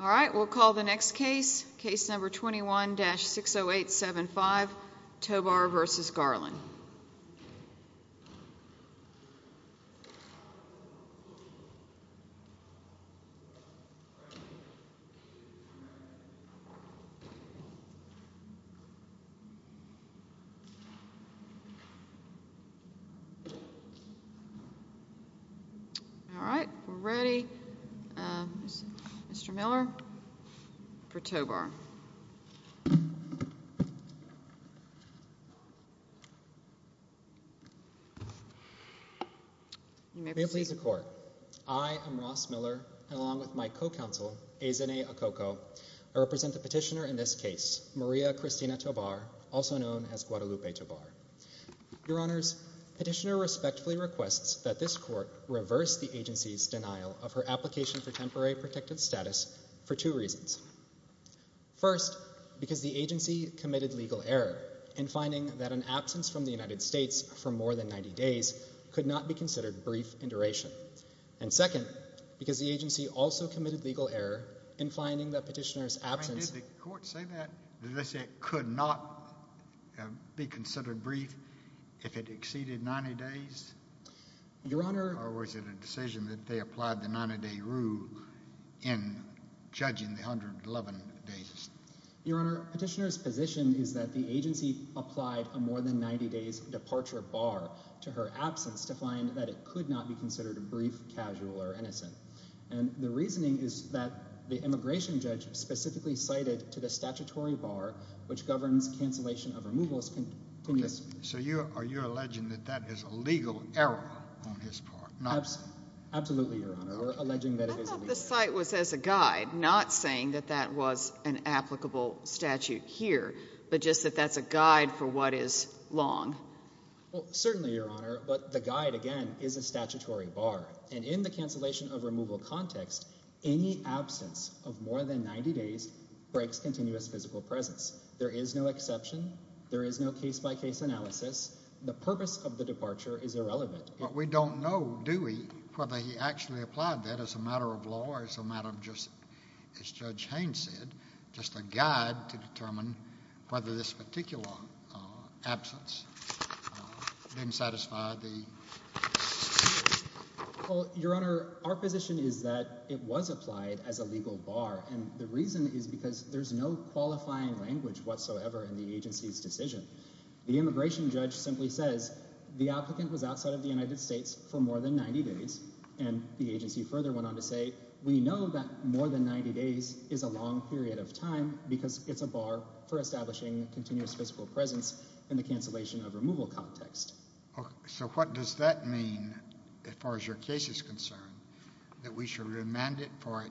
All right, we'll call the next case. Case number 21-60875, Tobar v. Garland. All right, we're ready. Mr. Miller for Tobar. May it please the Court. I am Ross Miller, and along with my co-counsel, Ezene Okoko, I represent the petitioner in this case, Maria Cristina Tobar, also known as Guadalupe Tobar. Your Honors, the petitioner respectfully requests that this Court reverse the agency's denial of her application for temporary protective status for two reasons. First, because the agency committed legal error in finding that an absence from the United States for more than 90 days could not be considered brief in duration. And second, because the agency also committed legal error in finding that petitioner's absence... Did the Court say that? Did they say it could not be considered brief if it exceeded 90 days? Your Honor... Or was it a decision that they applied the 90-day rule in judging the 111 days? Your Honor, petitioner's position is that the agency applied a more than 90-days departure bar to her absence to find that it could not be considered brief, casual, or innocent. And the reasoning is that the immigration judge specifically cited to the statutory bar, which governs cancellation of removals... So you're alleging that that is a legal error on his part? Absolutely, Your Honor. We're alleging that it is a legal error. I thought the cite was as a guide, not saying that that was an applicable statute here, but just that that's a guide for what is long. Well, certainly, Your Honor, but the guide, again, is a statutory bar. And in the cancellation of removal context, any absence of more than 90 days breaks continuous physical presence. There is no exception. There is no case-by-case analysis. The purpose of the departure is irrelevant. But we don't know, do we, whether he actually applied that as a matter of law or as a matter of just, as Judge Haynes said, just a guide to determine whether this particular absence didn't satisfy the statute? Well, Your Honor, our position is that it was applied as a legal bar, and the reason is because there's no qualifying language whatsoever in the agency's decision. The immigration judge simply says the applicant was outside of the United States for more than 90 days, and the agency further went on to say, we know that more than 90 days is a long period of time because it's a bar for establishing continuous physical presence in the cancellation of removal context. So what does that mean as far as your case is concerned, that we should remand it for it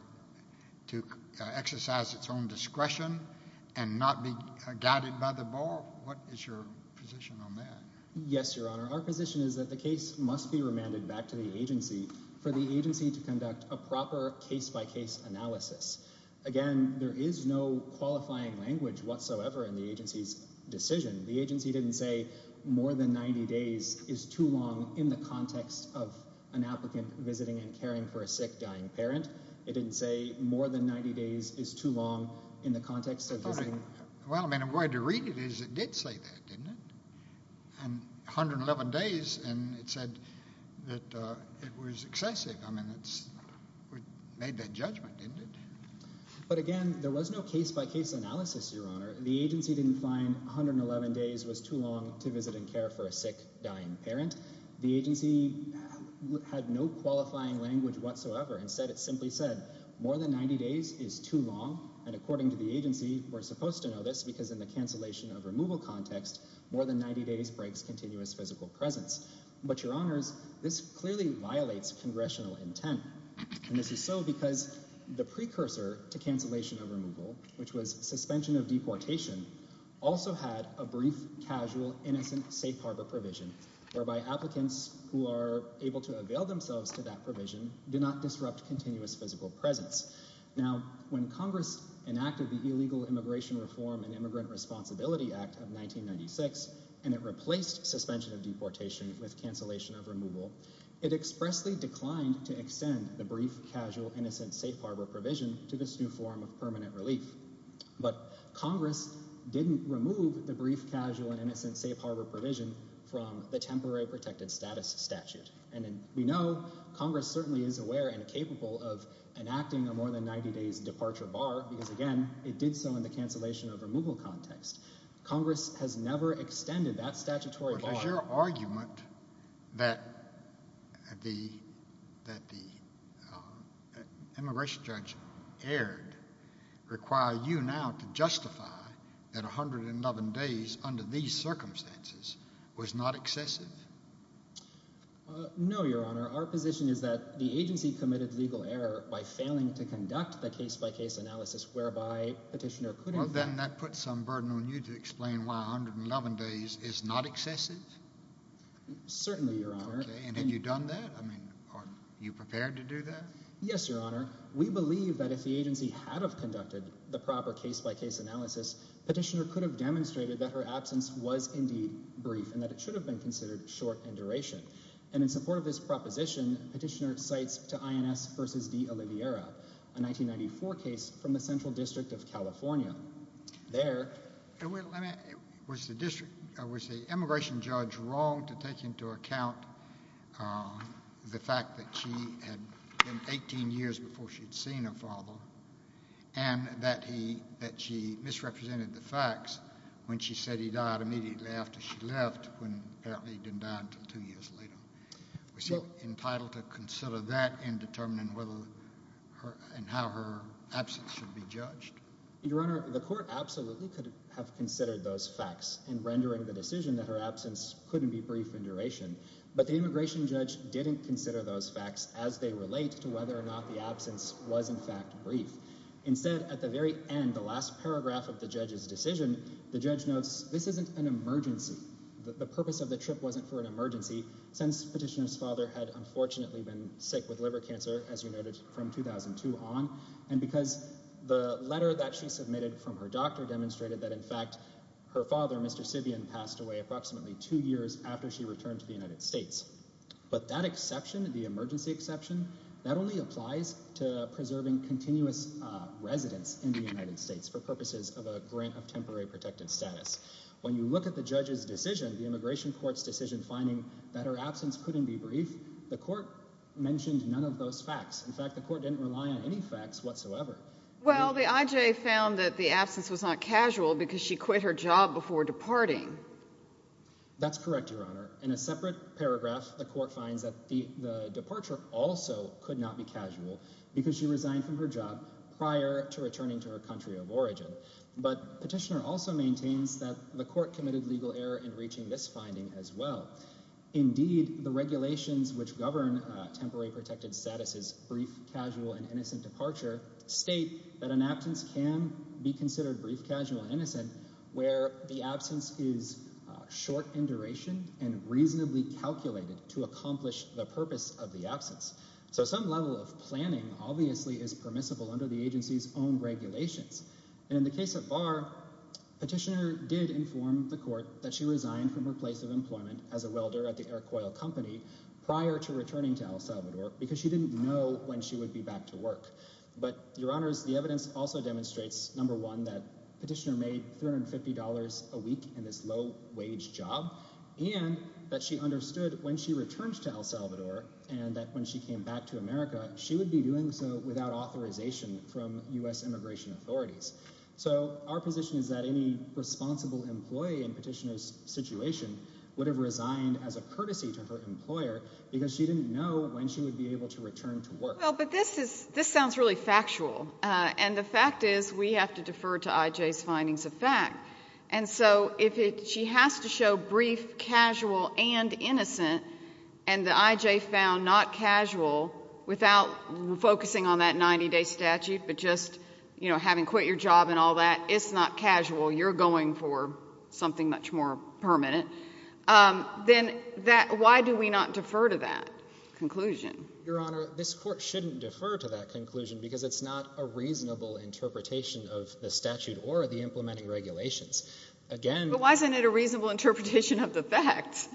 to exercise its own discretion and not be guided by the bar? What is your position on that? Yes, Your Honor. Our position is that the case must be remanded back to the agency for the agency to conduct a proper case-by-case analysis. Again, there is no qualifying language whatsoever in the agency's decision. The agency didn't say more than 90 days is too long in the context of an applicant visiting and caring for a sick, dying parent. It didn't say more than 90 days is too long in the context of visiting. Well, I mean, the way to read it is it did say that, didn't it? And 111 days, and it said that it was excessive. I mean, it made that judgment, didn't it? But again, there was no case-by-case analysis, Your Honor. The agency didn't find 111 days was too long to visit and care for a sick, dying parent. The agency had no qualifying language whatsoever. Instead, it simply said more than 90 days is too long, and according to the agency, we're supposed to know this because in the cancellation of removal context, more than 90 days breaks continuous physical presence. But, Your Honors, this clearly violates congressional intent. And this is so because the precursor to cancellation of removal, which was suspension of deportation, also had a brief, casual, innocent safe harbor provision, whereby applicants who are able to avail themselves to that provision do not disrupt continuous physical presence. Now, when Congress enacted the Illegal Immigration Reform and Immigrant Responsibility Act of 1996 and it replaced suspension of deportation with cancellation of removal, it expressly declined to extend the brief, casual, innocent safe harbor provision to this new form of permanent relief. But Congress didn't remove the brief, casual, and innocent safe harbor provision from the temporary protected status statute. And we know Congress certainly is aware and capable of enacting a more than 90 days departure bar because, again, it did so in the cancellation of removal context. Congress has never extended that statutory bar. Does your argument that the immigration judge erred require you now to justify that 111 days under these circumstances was not excessive? No, Your Honor. Our position is that the agency committed legal error by failing to conduct the case-by-case analysis whereby Petitioner could have— Well, then that puts some burden on you to explain why 111 days is not excessive? Certainly, Your Honor. Okay. And have you done that? I mean, are you prepared to do that? Yes, Your Honor. We believe that if the agency had have conducted the proper case-by-case analysis, Petitioner could have demonstrated that her absence was indeed brief and that it should have been considered short in duration. And in support of this proposition, Petitioner cites to INS v. D. Oliveira, a 1994 case from the Central District of California. There— Was the district—was the immigration judge wrong to take into account the fact that she had been 18 years before she had seen her father and that he—that she misrepresented the facts when she said he died immediately after she left when apparently he didn't die until two years later? Was she entitled to consider that in determining whether her— and how her absence should be judged? Your Honor, the court absolutely could have considered those facts in rendering the decision that her absence couldn't be brief in duration, but the immigration judge didn't consider those facts as they relate to whether or not the absence was in fact brief. Instead, at the very end, the last paragraph of the judge's decision, the judge notes, this isn't an emergency. The purpose of the trip wasn't for an emergency, since Petitioner's father had unfortunately been sick with liver cancer, as you noted, from 2002 on, and because the letter that she submitted from her doctor demonstrated that in fact her father, Mr. Sibian, passed away approximately two years after she returned to the United States. But that exception, the emergency exception, that only applies to preserving continuous residence in the United States for purposes of a grant of temporary protected status. When you look at the judge's decision, the immigration court's decision finding that her absence couldn't be brief, the court mentioned none of those facts. In fact, the court didn't rely on any facts whatsoever. Well, the IJ found that the absence was not casual because she quit her job before departing. That's correct, Your Honor. In a separate paragraph, the court finds that the departure also could not be casual because she resigned from her job prior to returning to her country of origin. But Petitioner also maintains that the court committed legal error in reaching this finding as well. Indeed, the regulations which govern temporary protected status' brief, casual, and innocent departure where the absence is short in duration and reasonably calculated to accomplish the purpose of the absence. So some level of planning obviously is permissible under the agency's own regulations. And in the case of Barr, Petitioner did inform the court that she resigned from her place of employment as a welder at the Air Coil Company prior to returning to El Salvador because she didn't know when she would be back to work. But, Your Honors, the evidence also demonstrates, number one, that Petitioner made $350 a week in this low-wage job and that she understood when she returned to El Salvador and that when she came back to America, she would be doing so without authorization from U.S. immigration authorities. So our position is that any responsible employee in Petitioner's situation would have resigned as a courtesy to her employer because she didn't know when she would be able to return to work. Well, but this sounds really factual. And the fact is we have to defer to I.J.'s findings of fact. And so if she has to show brief, casual, and innocent, and the I.J. found not casual without focusing on that 90-day statute but just, you know, having quit your job and all that, it's not casual, you're going for something much more permanent, then why do we not defer to that conclusion? Your Honor, this Court shouldn't defer to that conclusion because it's not a reasonable interpretation of the statute or the implementing regulations. But why isn't it a reasonable interpretation of the facts?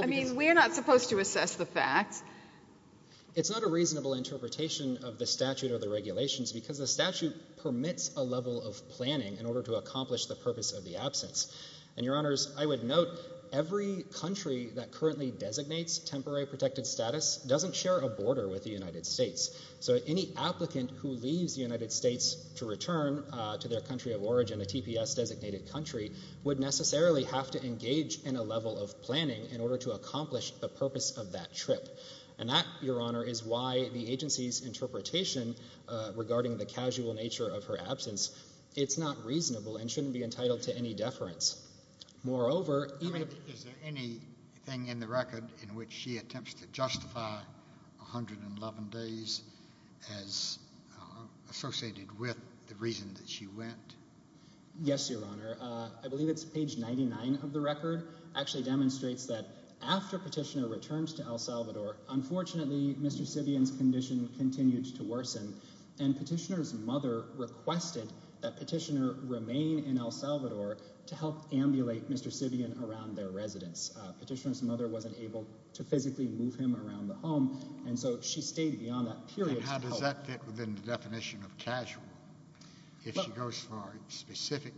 I mean, we're not supposed to assess the facts. It's not a reasonable interpretation of the statute or the regulations because the statute permits a level of planning in order to accomplish the purpose of the absence. And, Your Honors, I would note every country that currently designates temporary protected status doesn't share a border with the United States. So any applicant who leaves the United States to return to their country of origin, a TPS-designated country, would necessarily have to engage in a level of planning in order to accomplish the purpose of that trip. And that, Your Honor, is why the agency's interpretation regarding the casual nature of her absence, it's not reasonable and shouldn't be entitled to any deference. Moreover, even if... I mean, is there anything in the record in which she attempts to justify 111 days as associated with the reason that she went? Yes, Your Honor. I believe it's page 99 of the record. It actually demonstrates that after Petitioner returned to El Salvador, unfortunately, Mr. Sivian's condition continued to worsen, and Petitioner's mother requested that Petitioner remain in El Salvador to help ambulate Mr. Sivian around their residence. Petitioner's mother wasn't able to physically move him around the home, and so she stayed beyond that period to help. And how does that fit within the definition of casual? If she goes for a specific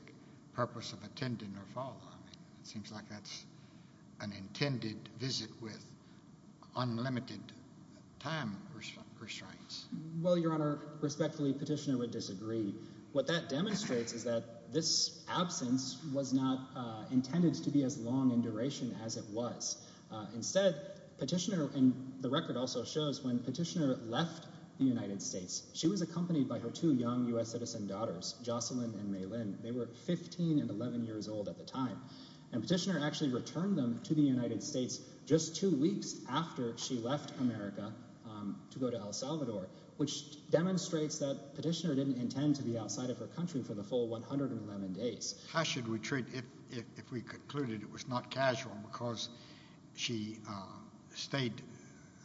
purpose of attending or following, it seems like that's an intended visit with unlimited time restraints. Well, Your Honor, respectfully, Petitioner would disagree. What that demonstrates is that this absence was not intended to be as long in duration as it was. Instead, Petitioner... And the record also shows when Petitioner left the United States, she was accompanied by her two young U.S. citizen daughters, Jocelyn and Maylynn. They were 15 and 11 years old at the time. And Petitioner actually returned them to the United States just two weeks after she left America to go to El Salvador, which demonstrates that Petitioner didn't intend to be outside of her country for the full 111 days. How should we treat... If we concluded it was not casual because she stayed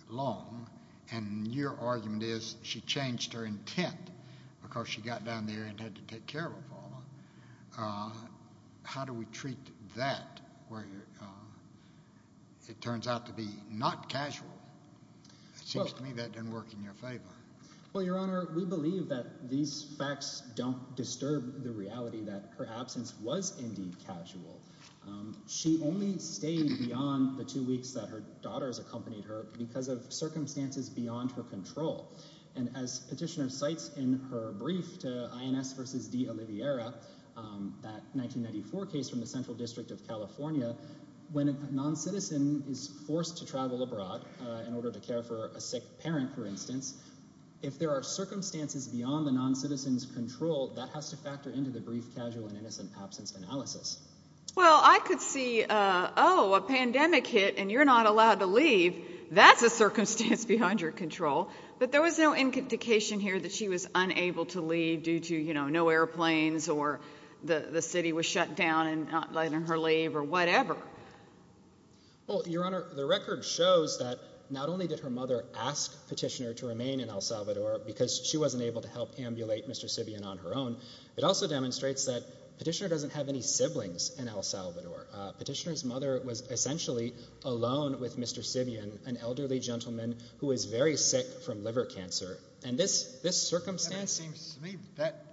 long, and your argument is she changed her intent because she got down there and had to take care of her father, how do we treat that, where it turns out to be not casual? It seems to me that didn't work in your favor. Well, Your Honor, we believe that these facts don't disturb the reality that her absence was indeed casual. She only stayed beyond the two weeks that her daughters accompanied her because of circumstances beyond her control. And as Petitioner cites in her brief to INS v. D'Oliviera, that 1994 case from the Central District of California, when a noncitizen is forced to travel abroad in order to care for a sick parent, for instance, if there are circumstances beyond the noncitizen's control, that has to factor into the brief, casual, and innocent absence analysis. Well, I could see, oh, a pandemic hit and you're not allowed to leave. That's a circumstance behind your control. But there was no indication here that she was unable to leave due to no airplanes or the city was shut down and not letting her leave or whatever. Well, Your Honor, the record shows that not only did her mother ask Petitioner to remain in El Salvador because she wasn't able to help ambulate Mr. Sibion on her own, it also demonstrates that Petitioner doesn't have any siblings in El Salvador. Petitioner's mother was essentially alone with Mr. Sibion, an elderly gentleman who was very sick from liver cancer. And this circumstance... It seems to me that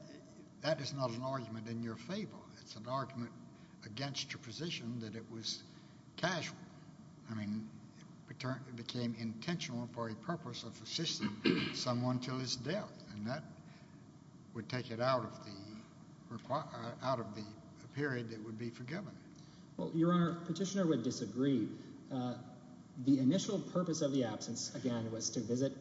that is not an argument in your favor. It's an argument against your position that it was casual. I mean, it became intentional for a purpose of assisting someone until his death, and that would take it out of the period that would be forgiven. Well, Your Honor, Petitioner would disagree. The initial purpose of the absence, again, was to visit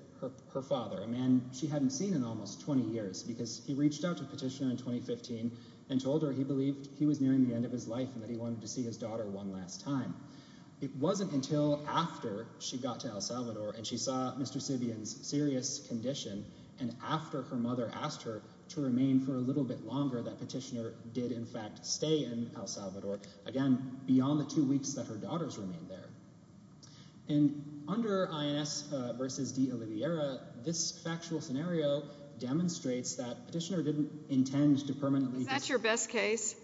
her father, a man she hadn't seen in almost 20 years, because he reached out to Petitioner in 2015 and told her he believed he was nearing the end of his life and that he wanted to see his daughter one last time. It wasn't until after she got to El Salvador and she saw Mr. Sibion's serious condition and after her mother asked her to remain for a little bit longer that Petitioner did, in fact, stay in El Salvador, again, beyond the two weeks that her daughters remained there. And under INS v. de Oliveira, this factual scenario demonstrates that Petitioner didn't intend to permanently... Is that your best case?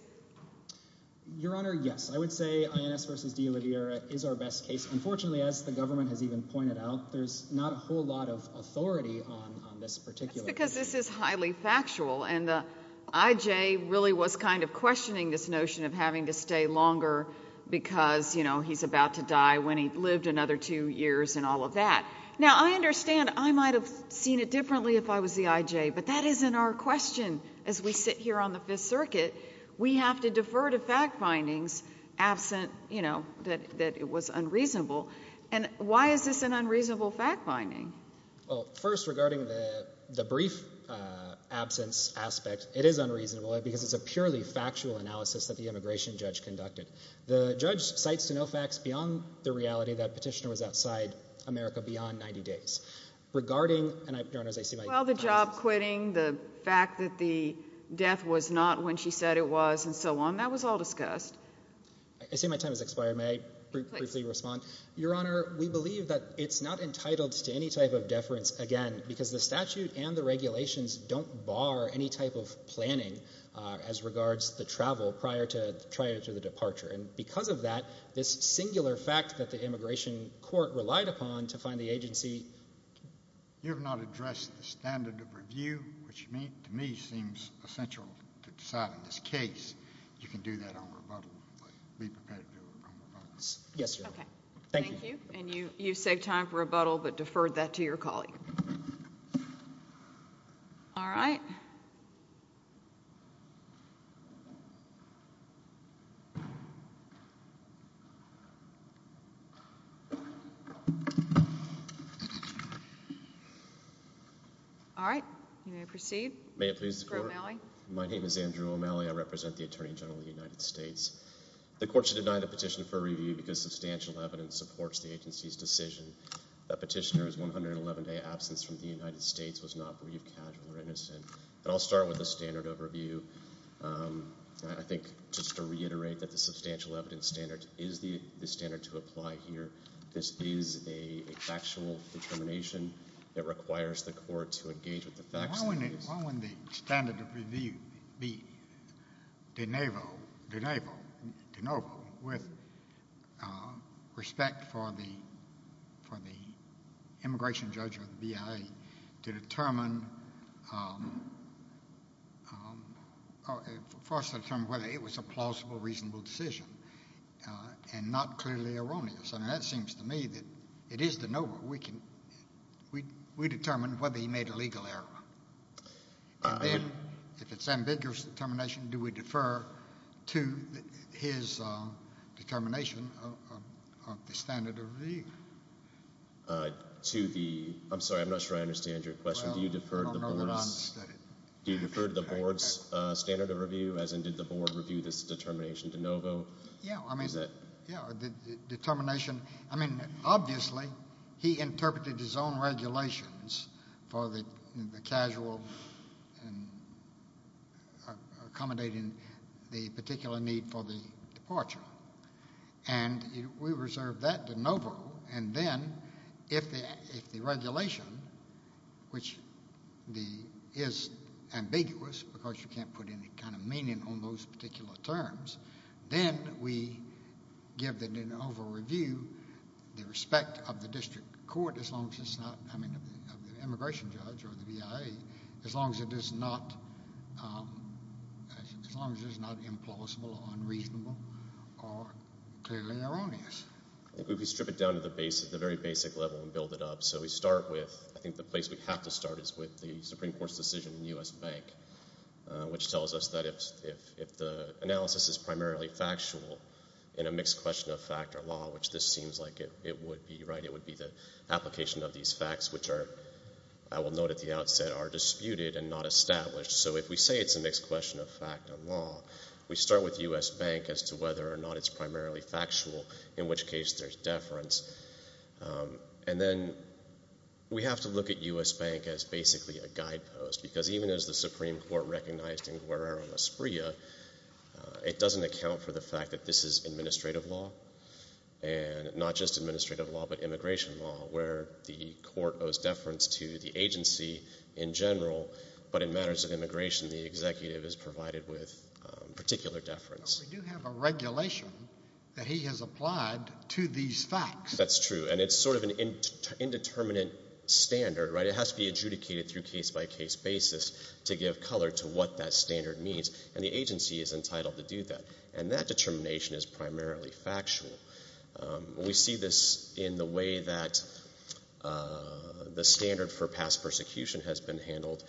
Your Honor, yes. I would say INS v. de Oliveira is our best case. Unfortunately, as the government has even pointed out, there's not a whole lot of authority on this particular case. That's because this is highly factual, and the I.J. really was kind of questioning this notion of having to stay longer because, you know, he's about to die when he lived another two years and all of that. Now, I understand I might have seen it differently if I was the I.J., but that isn't our question as we sit here on the Fifth Circuit. We have to defer to fact findings absent, you know, that it was unreasonable. And why is this an unreasonable fact finding? Well, first, regarding the brief absence aspect, it is unreasonable because it's a purely factual analysis that the immigration judge conducted. The judge cites to no facts beyond the reality that Petitioner was outside America beyond 90 days. Regarding... Your Honor, as I see my... Well, the job quitting, the fact that the death was not when she said it was, and so on, that was all discussed. I see my time has expired. May I briefly respond? Your Honor, we believe that it's not entitled to any type of deference again because the statute and the regulations don't bar any type of planning as regards the travel prior to the departure. And because of that, this singular fact that the immigration court relied upon to find the agency... You have not addressed the standard of review, which to me seems essential to deciding this case. You can do that on rebuttal, but be prepared to do it on rebuttal. Yes, Your Honor. Thank you. Thank you. And you saved time for rebuttal, but deferred that to your colleague. All right. All right. You may proceed. May it please the Court? Andrew O'Malley. My name is Andrew O'Malley. I represent the Attorney General of the United States. The Court should deny the petition for review because substantial evidence supports the agency's decision that Petitioner's 111-day absence from the United States was not bereaved, casual, or innocent. And I'll start with a standard overview. I think just to reiterate that the substantial evidence standard is the standard to apply here. This is a factual determination that requires the Court to engage with the facts of the case. Why wouldn't the standard of review be de novo with respect for the immigration judge or the BIA to determine whether it was a plausible, reasonable decision and not clearly erroneous? I mean, that seems to me that it is de novo. We determine whether he made a legal error. And then, if it's an ambiguous determination, do we defer to his determination of the standard of review? I'm sorry. I'm not sure I understand your question. Do you defer to the Board's standard of review, as in did the Board review this determination de novo? Yeah, the determination. I mean, obviously, he interpreted his own regulations for the casual and accommodating the particular need for the departure. And we reserve that de novo. And then, if the regulation, which is ambiguous, because you can't put any kind of meaning on those particular terms, then we give the de novo review the respect of the district court, as long as it's not, I mean, of the immigration judge or the BIA, as long as it is not implausible or unreasonable or clearly erroneous. I think we could strip it down to the very basic level and build it up. So we start with, I think the place we have to start is with the Supreme Court's decision in U.S. Bank, which tells us that if the analysis is primarily factual in a mixed question of fact or law, which this seems like it would be, right, it would be the application of these facts, which are, I will note at the outset, are disputed and not established. So if we say it's a mixed question of fact or law, we start with U.S. Bank as to whether or not it's primarily factual, in which case there's deference. And then we have to look at U.S. Bank as basically a guidepost, because even as the Supreme Court recognized in Guerrero-Esprilla, it doesn't account for the fact that this is administrative law and not just administrative law but immigration law, where the court owes deference to the agency in general, but in matters of immigration, the executive is provided with particular deference. But we do have a regulation that he has applied to these facts. That's true, and it's sort of an indeterminate standard, right? It's a case-by-case basis to give color to what that standard means, and the agency is entitled to do that. And that determination is primarily factual. We see this in the way that the standard for past persecution has been handled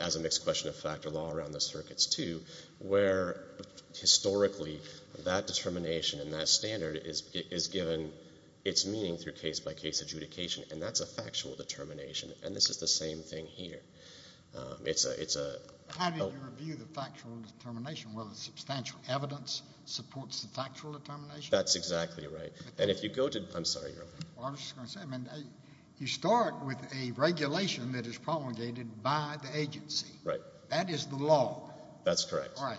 as a mixed question of fact or law around the circuits, too, where historically that determination and that standard is given its meaning through case-by-case adjudication, and that's a factual determination. And this is the same thing here. How do you review the factual determination? Whether substantial evidence supports the factual determination? That's exactly right. I'm sorry, Your Honor. I was just going to say, you start with a regulation that is promulgated by the agency. Right. That is the law. That's correct. Right.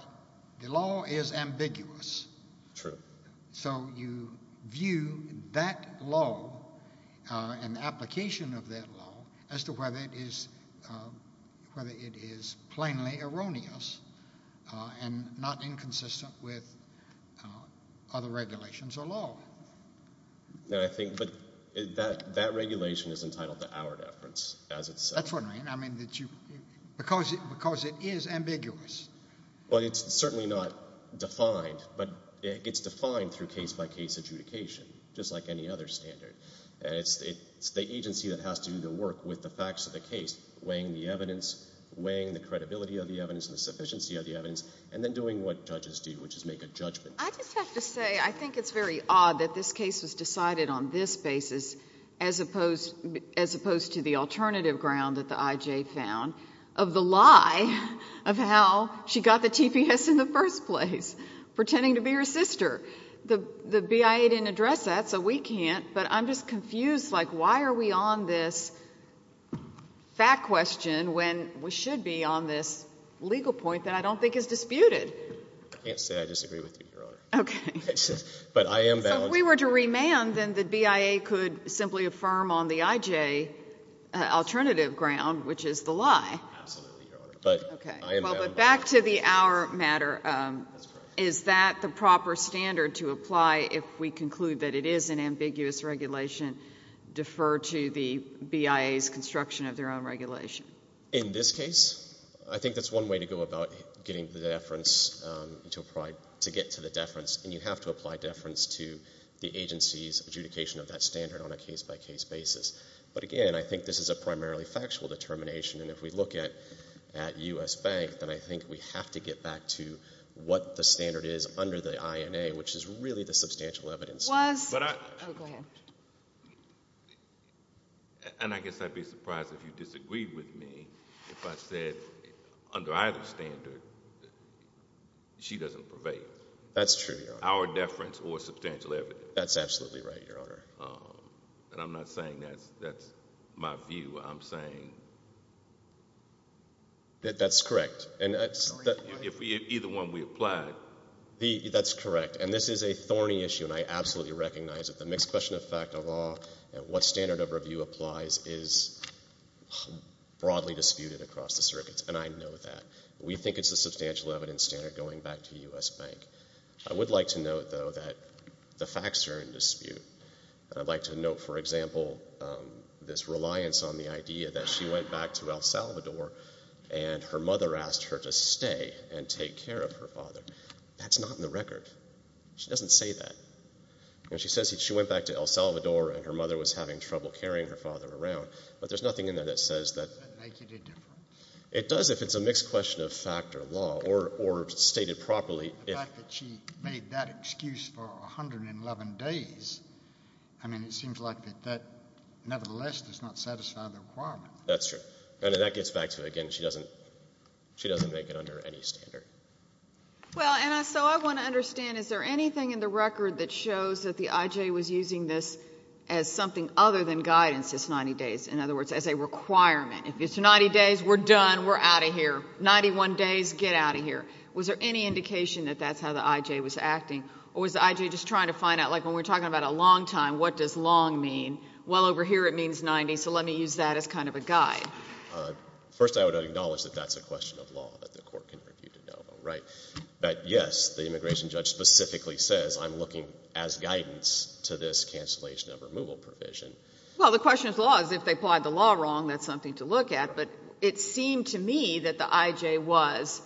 The law is ambiguous. True. So you view that law and the application of that law as to whether it is plainly erroneous and not inconsistent with other regulations or law. No, I think that regulation is entitled to hour deference, as it says. That's what I mean. Because it is ambiguous. Well, it's certainly not defined, but it gets defined through case-by-case adjudication, just like any other standard. It's the agency that has to do the work with the facts of the case, weighing the evidence, weighing the credibility of the evidence and the sufficiency of the evidence, and then doing what judges do, which is make a judgment. I just have to say I think it's very odd that this case was decided on this basis as opposed to the alternative ground that the I.J. found of the lie of how she got the TPS in the first place, pretending to be her sister. The BIA didn't address that, so we can't. But I'm just confused. Like, why are we on this fact question when we should be on this legal point that I don't think is disputed? I can't say I disagree with you, Your Honor. Okay. But I am balanced. So if we were to remand, then the BIA could simply affirm on the I.J. alternative ground, which is the lie. Absolutely, Your Honor. But I am balanced. Back to the hour matter. That's correct. Is that the proper standard to apply if we conclude that it is an ambiguous regulation, defer to the BIA's construction of their own regulation? In this case, I think that's one way to go about getting the deference to get to the deference, and you have to apply deference to the agency's adjudication of that standard on a case-by-case basis. But again, I think this is a primarily factual determination, and if we look at U.S. Bank, then I think we have to get back to what the standard is under the INA, which is really the substantial evidence. Was... Oh, go ahead. And I guess I'd be surprised if you disagreed with me if I said under either standard, she doesn't pervade. That's true, Your Honor. Our deference or substantial evidence. That's absolutely right, Your Honor. And I'm not saying that's my view. I'm saying... That's correct. If either one we applied. That's correct. And this is a thorny issue, and I absolutely recognize it. The mixed question of fact of law and what standard of review applies is broadly disputed across the circuits, and I know that. We think it's a substantial evidence standard going back to U.S. Bank. I would like to note, though, that the facts are in dispute. I'd like to note, for example, this reliance on the idea that she went back to El Salvador and her mother asked her to stay and take care of her father. That's not in the record. She doesn't say that. She says she went back to El Salvador and her mother was having trouble carrying her father around, but there's nothing in there that says that... It doesn't make it any different. It does if it's a mixed question of fact or law or stated properly. The fact that she made that excuse for 111 days, I mean, it seems like that, nevertheless, does not satisfy the requirement. That's true, and that gets back to, again, she doesn't make it under any standard. Well, and so I want to understand, is there anything in the record that shows that the I.J. was using this as something other than guidance, this 90 days, in other words, as a requirement? If it's 90 days, we're done, we're out of here. 91 days, get out of here. Was there any indication that that's how the I.J. was acting, or was the I.J. just trying to find out, like when we're talking about a long time, what does long mean? Well, over here it means 90, so let me use that as kind of a guide. First, I would acknowledge that that's a question of law, that the court can refute it, right? But, yes, the immigration judge specifically says, I'm looking as guidance to this cancellation of removal provision. Well, the question of law is if they plied the law wrong, that's something to look at, but it seemed to me that the I.J. was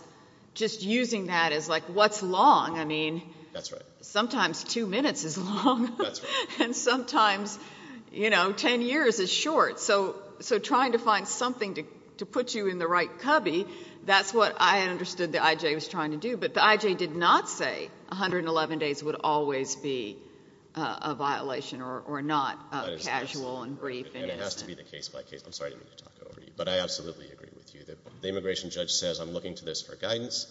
just using that as, like, what's long? I mean... That's right. Sometimes two minutes is long. That's right. And sometimes, you know, 10 years is short. So trying to find something to put you in the right cubby, that's what I understood the I.J. was trying to do. But the I.J. did not say 111 days would always be a violation or not casual and brief. It has to be the case-by-case. I'm sorry to talk over you, but I absolutely agree with you. The immigration judge says, I'm looking to this for guidance.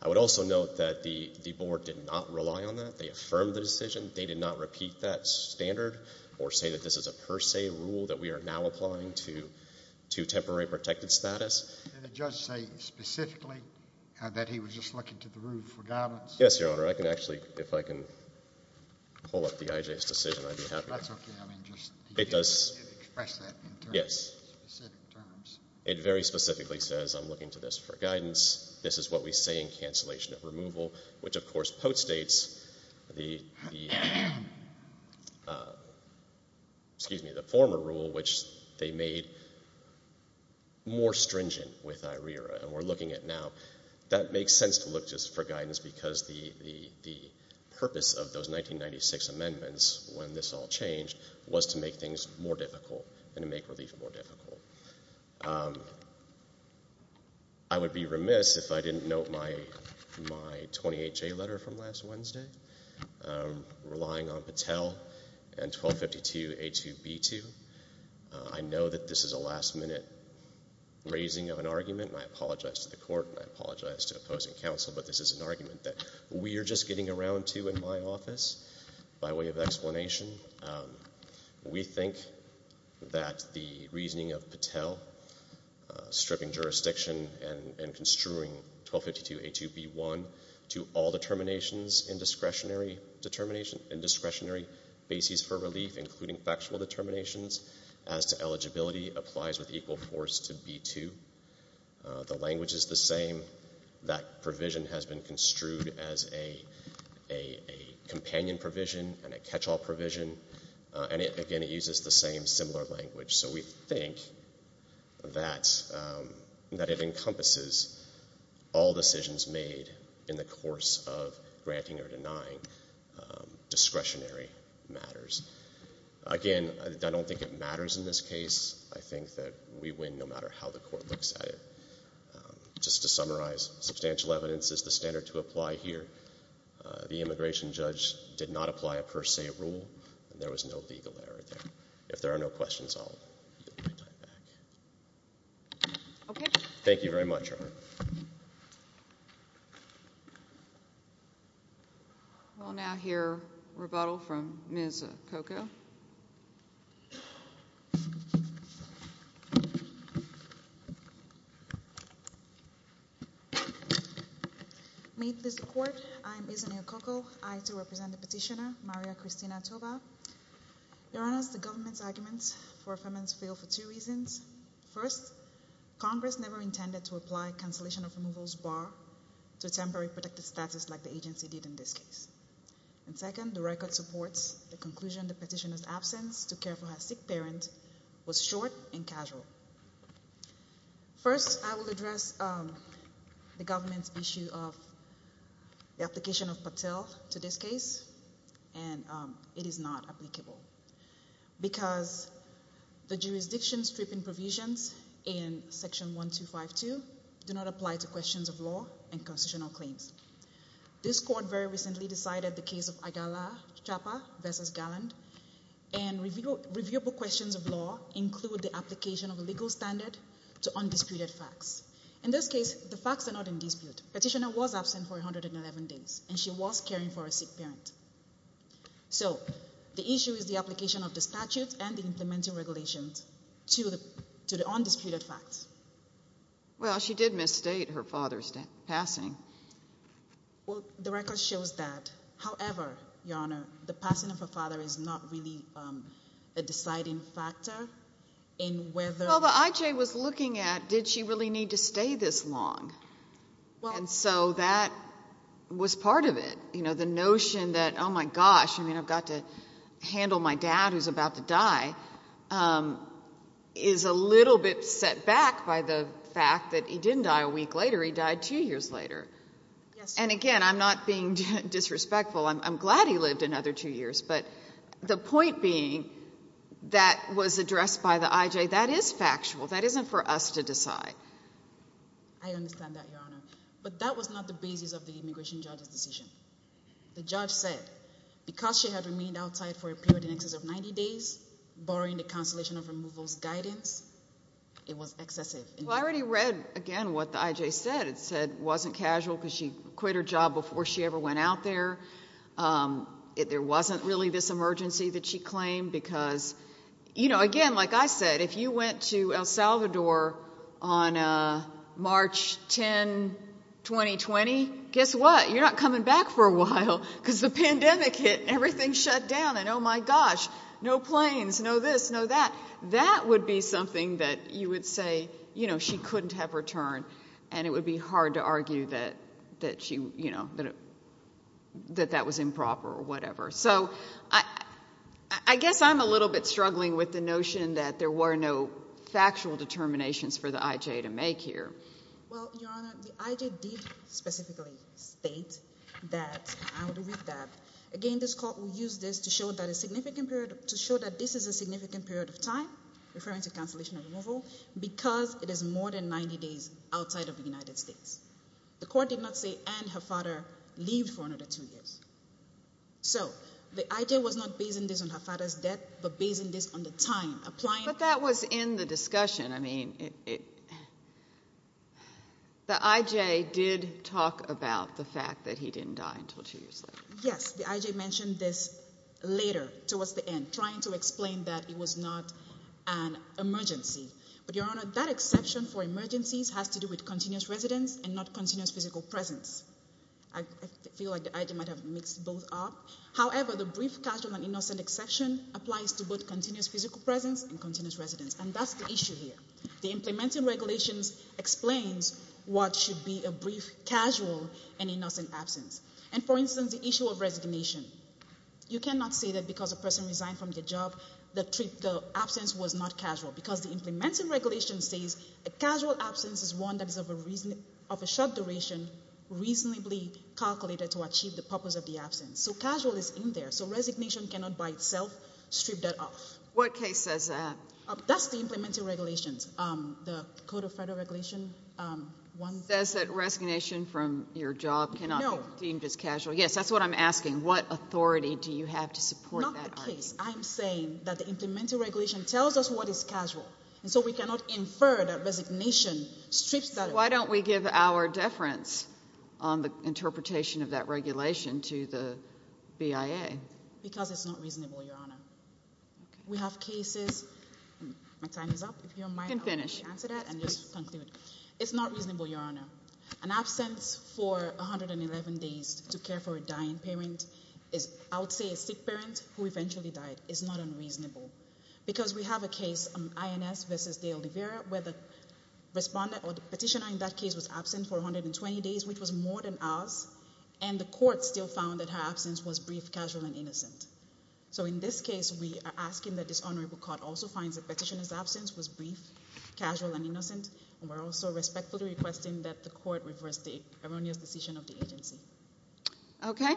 I would also note that the board did not rely on that. They affirmed the decision. They did not repeat that standard or say that this is a per se rule that we are now applying to temporary protected status. Did the judge say specifically that he was just looking to the rule for guidance? Yes, Your Honor. I can actually, if I can pull up the I.J.'s decision, I'd be happy to. That's okay. I mean, just express that in terms of specific terms. It very specifically says, I'm looking to this for guidance. This is what we say in cancellation of removal, which, of course, post-states the former rule, which they made more stringent with IRERA, and we're looking at now. That makes sense to look just for guidance because the purpose of those 1996 amendments, when this all changed, was to make things more difficult and to make relief more difficult. I would be remiss if I didn't note my 28-J letter from last Wednesday, relying on Patel and 1252A2B2. I know that this is a last-minute raising of an argument, and I apologize to the court and I apologize to opposing counsel, but this is an argument that we are just getting around to in my office by way of explanation. We think that the reasoning of Patel stripping jurisdiction and construing 1252A2B1 to all determinations in discretionary bases for relief, including factual determinations as to eligibility, applies with equal force to B2. The language is the same. That provision has been construed as a companion provision and a catch-all provision, and, again, it uses the same similar language. So we think that it encompasses all decisions made in the course of granting or denying discretionary matters. Again, I don't think it matters in this case. I think that we win no matter how the court looks at it. Just to summarize, substantial evidence is the standard to apply here. The immigration judge did not apply a per se rule, and there was no legal error there. If there are no questions, I'll yield my time back. Thank you very much, Your Honor. We'll now hear rebuttal from Ms. Okoko. May it please the Court, I am Izania Okoko, I, too, represent the petitioner, Maria Christina Tova. Your Honor, the government's arguments for affirmance fail for two reasons. First, Congress never intended to apply cancellation of removal's bar to a temporary protected status like the agency did in this case. And, second, the record supports the conclusion the petitioner's absence to care for her sick parent was short and casual. First, I will address the government's issue of the application of Patel to this case, and it is not applicable because the jurisdiction stripping provisions in Section 1252 do not apply to questions of law and constitutional claims. This Court very recently decided the case of Agala Chapa v. Galland, and reviewable questions of law include the application of a legal standard to undisputed facts. In this case, the facts are not in dispute. Petitioner was absent for 111 days, and she was caring for her sick parent. So the issue is the application of the statute and the implementing regulations to the undisputed facts. Well, she did misstate her father's passing. Well, the record shows that. However, Your Honor, the passing of her father is not really a deciding factor in whether— Well, the IJ was looking at did she really need to stay this long, and so that was part of it. The notion that, oh, my gosh, I've got to handle my dad who's about to die is a little bit set back by the fact that he didn't die a week later. He died two years later. And again, I'm not being disrespectful. I'm glad he lived another two years, but the point being that was addressed by the IJ, that is factual. That isn't for us to decide. I understand that, Your Honor. But that was not the basis of the immigration judge's decision. The judge said because she had remained outside for a period in excess of 90 days, barring the cancellation of removal's guidance, it was excessive. Well, I already read, again, what the IJ said. It said it wasn't casual because she quit her job before she ever went out there. There wasn't really this emergency that she claimed because, you know, again, like I said, if you went to El Salvador on March 10, 2020, guess what? You're not coming back for a while because the pandemic hit and everything shut down and, oh, my gosh, no planes, no this, no that. That would be something that you would say, you know, she couldn't have returned, and it would be hard to argue that she, you know, that that was improper or whatever. So I guess I'm a little bit struggling with the notion that there were no factual determinations for the IJ to make here. Well, Your Honor, the IJ did specifically state that, I already read that, again, this court will use this to show that a significant period, to show that this is a significant period of time, referring to cancellation of removal, because it is more than 90 days outside of the United States. The court did not say and her father leaved for another two years. So the IJ was not basing this on her father's death but basing this on the time. But that was in the discussion. I mean, the IJ did talk about the fact that he didn't die until two years later. Yes, the IJ mentioned this later towards the end, trying to explain that it was not an emergency. But, Your Honor, that exception for emergencies has to do with continuous residence and not continuous physical presence. I feel like the IJ might have mixed both up. However, the brief, casual, and innocent exception applies to both continuous physical presence and continuous residence, and that's the issue here. The implementing regulations explains what should be a brief, casual, and innocent absence. And, for instance, the issue of resignation. You cannot say that because a person resigned from their job, the absence was not casual, because the implementing regulation says a casual absence is one that is of a short duration, reasonably calculated to achieve the purpose of the absence. So casual is in there. So resignation cannot by itself strip that off. What case says that? That's the implementing regulations, the Code of Federal Regulations. It says that resignation from your job cannot be deemed as casual. No. Yes, that's what I'm asking. What authority do you have to support that argument? Not the case. I'm saying that the implementing regulation tells us what is casual, and so we cannot infer that resignation strips that off. Why don't we give our deference on the interpretation of that regulation to the BIA? Because it's not reasonable, Your Honor. We have cases. My time is up. You can finish. If you don't mind, I'll answer that and just conclude. It's not reasonable, Your Honor. An absence for 111 days to care for a dying parent is, I would say, a sick parent who eventually died. It's not unreasonable. Because we have a case, INS v. Dale Rivera, where the respondent or the petitioner in that case was absent for 120 days, which was more than ours, and the court still found that her absence was brief, casual, and innocent. So in this case, we are asking that this honorable court also find the petitioner's absence was brief, casual, and innocent. And we're also respectfully requesting that the court reverse the erroneous decision of the agency. Okay.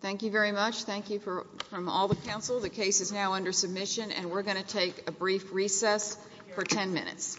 Thank you very much. Thank you from all the counsel. The case is now under submission, and we're going to take a brief recess for 10 minutes.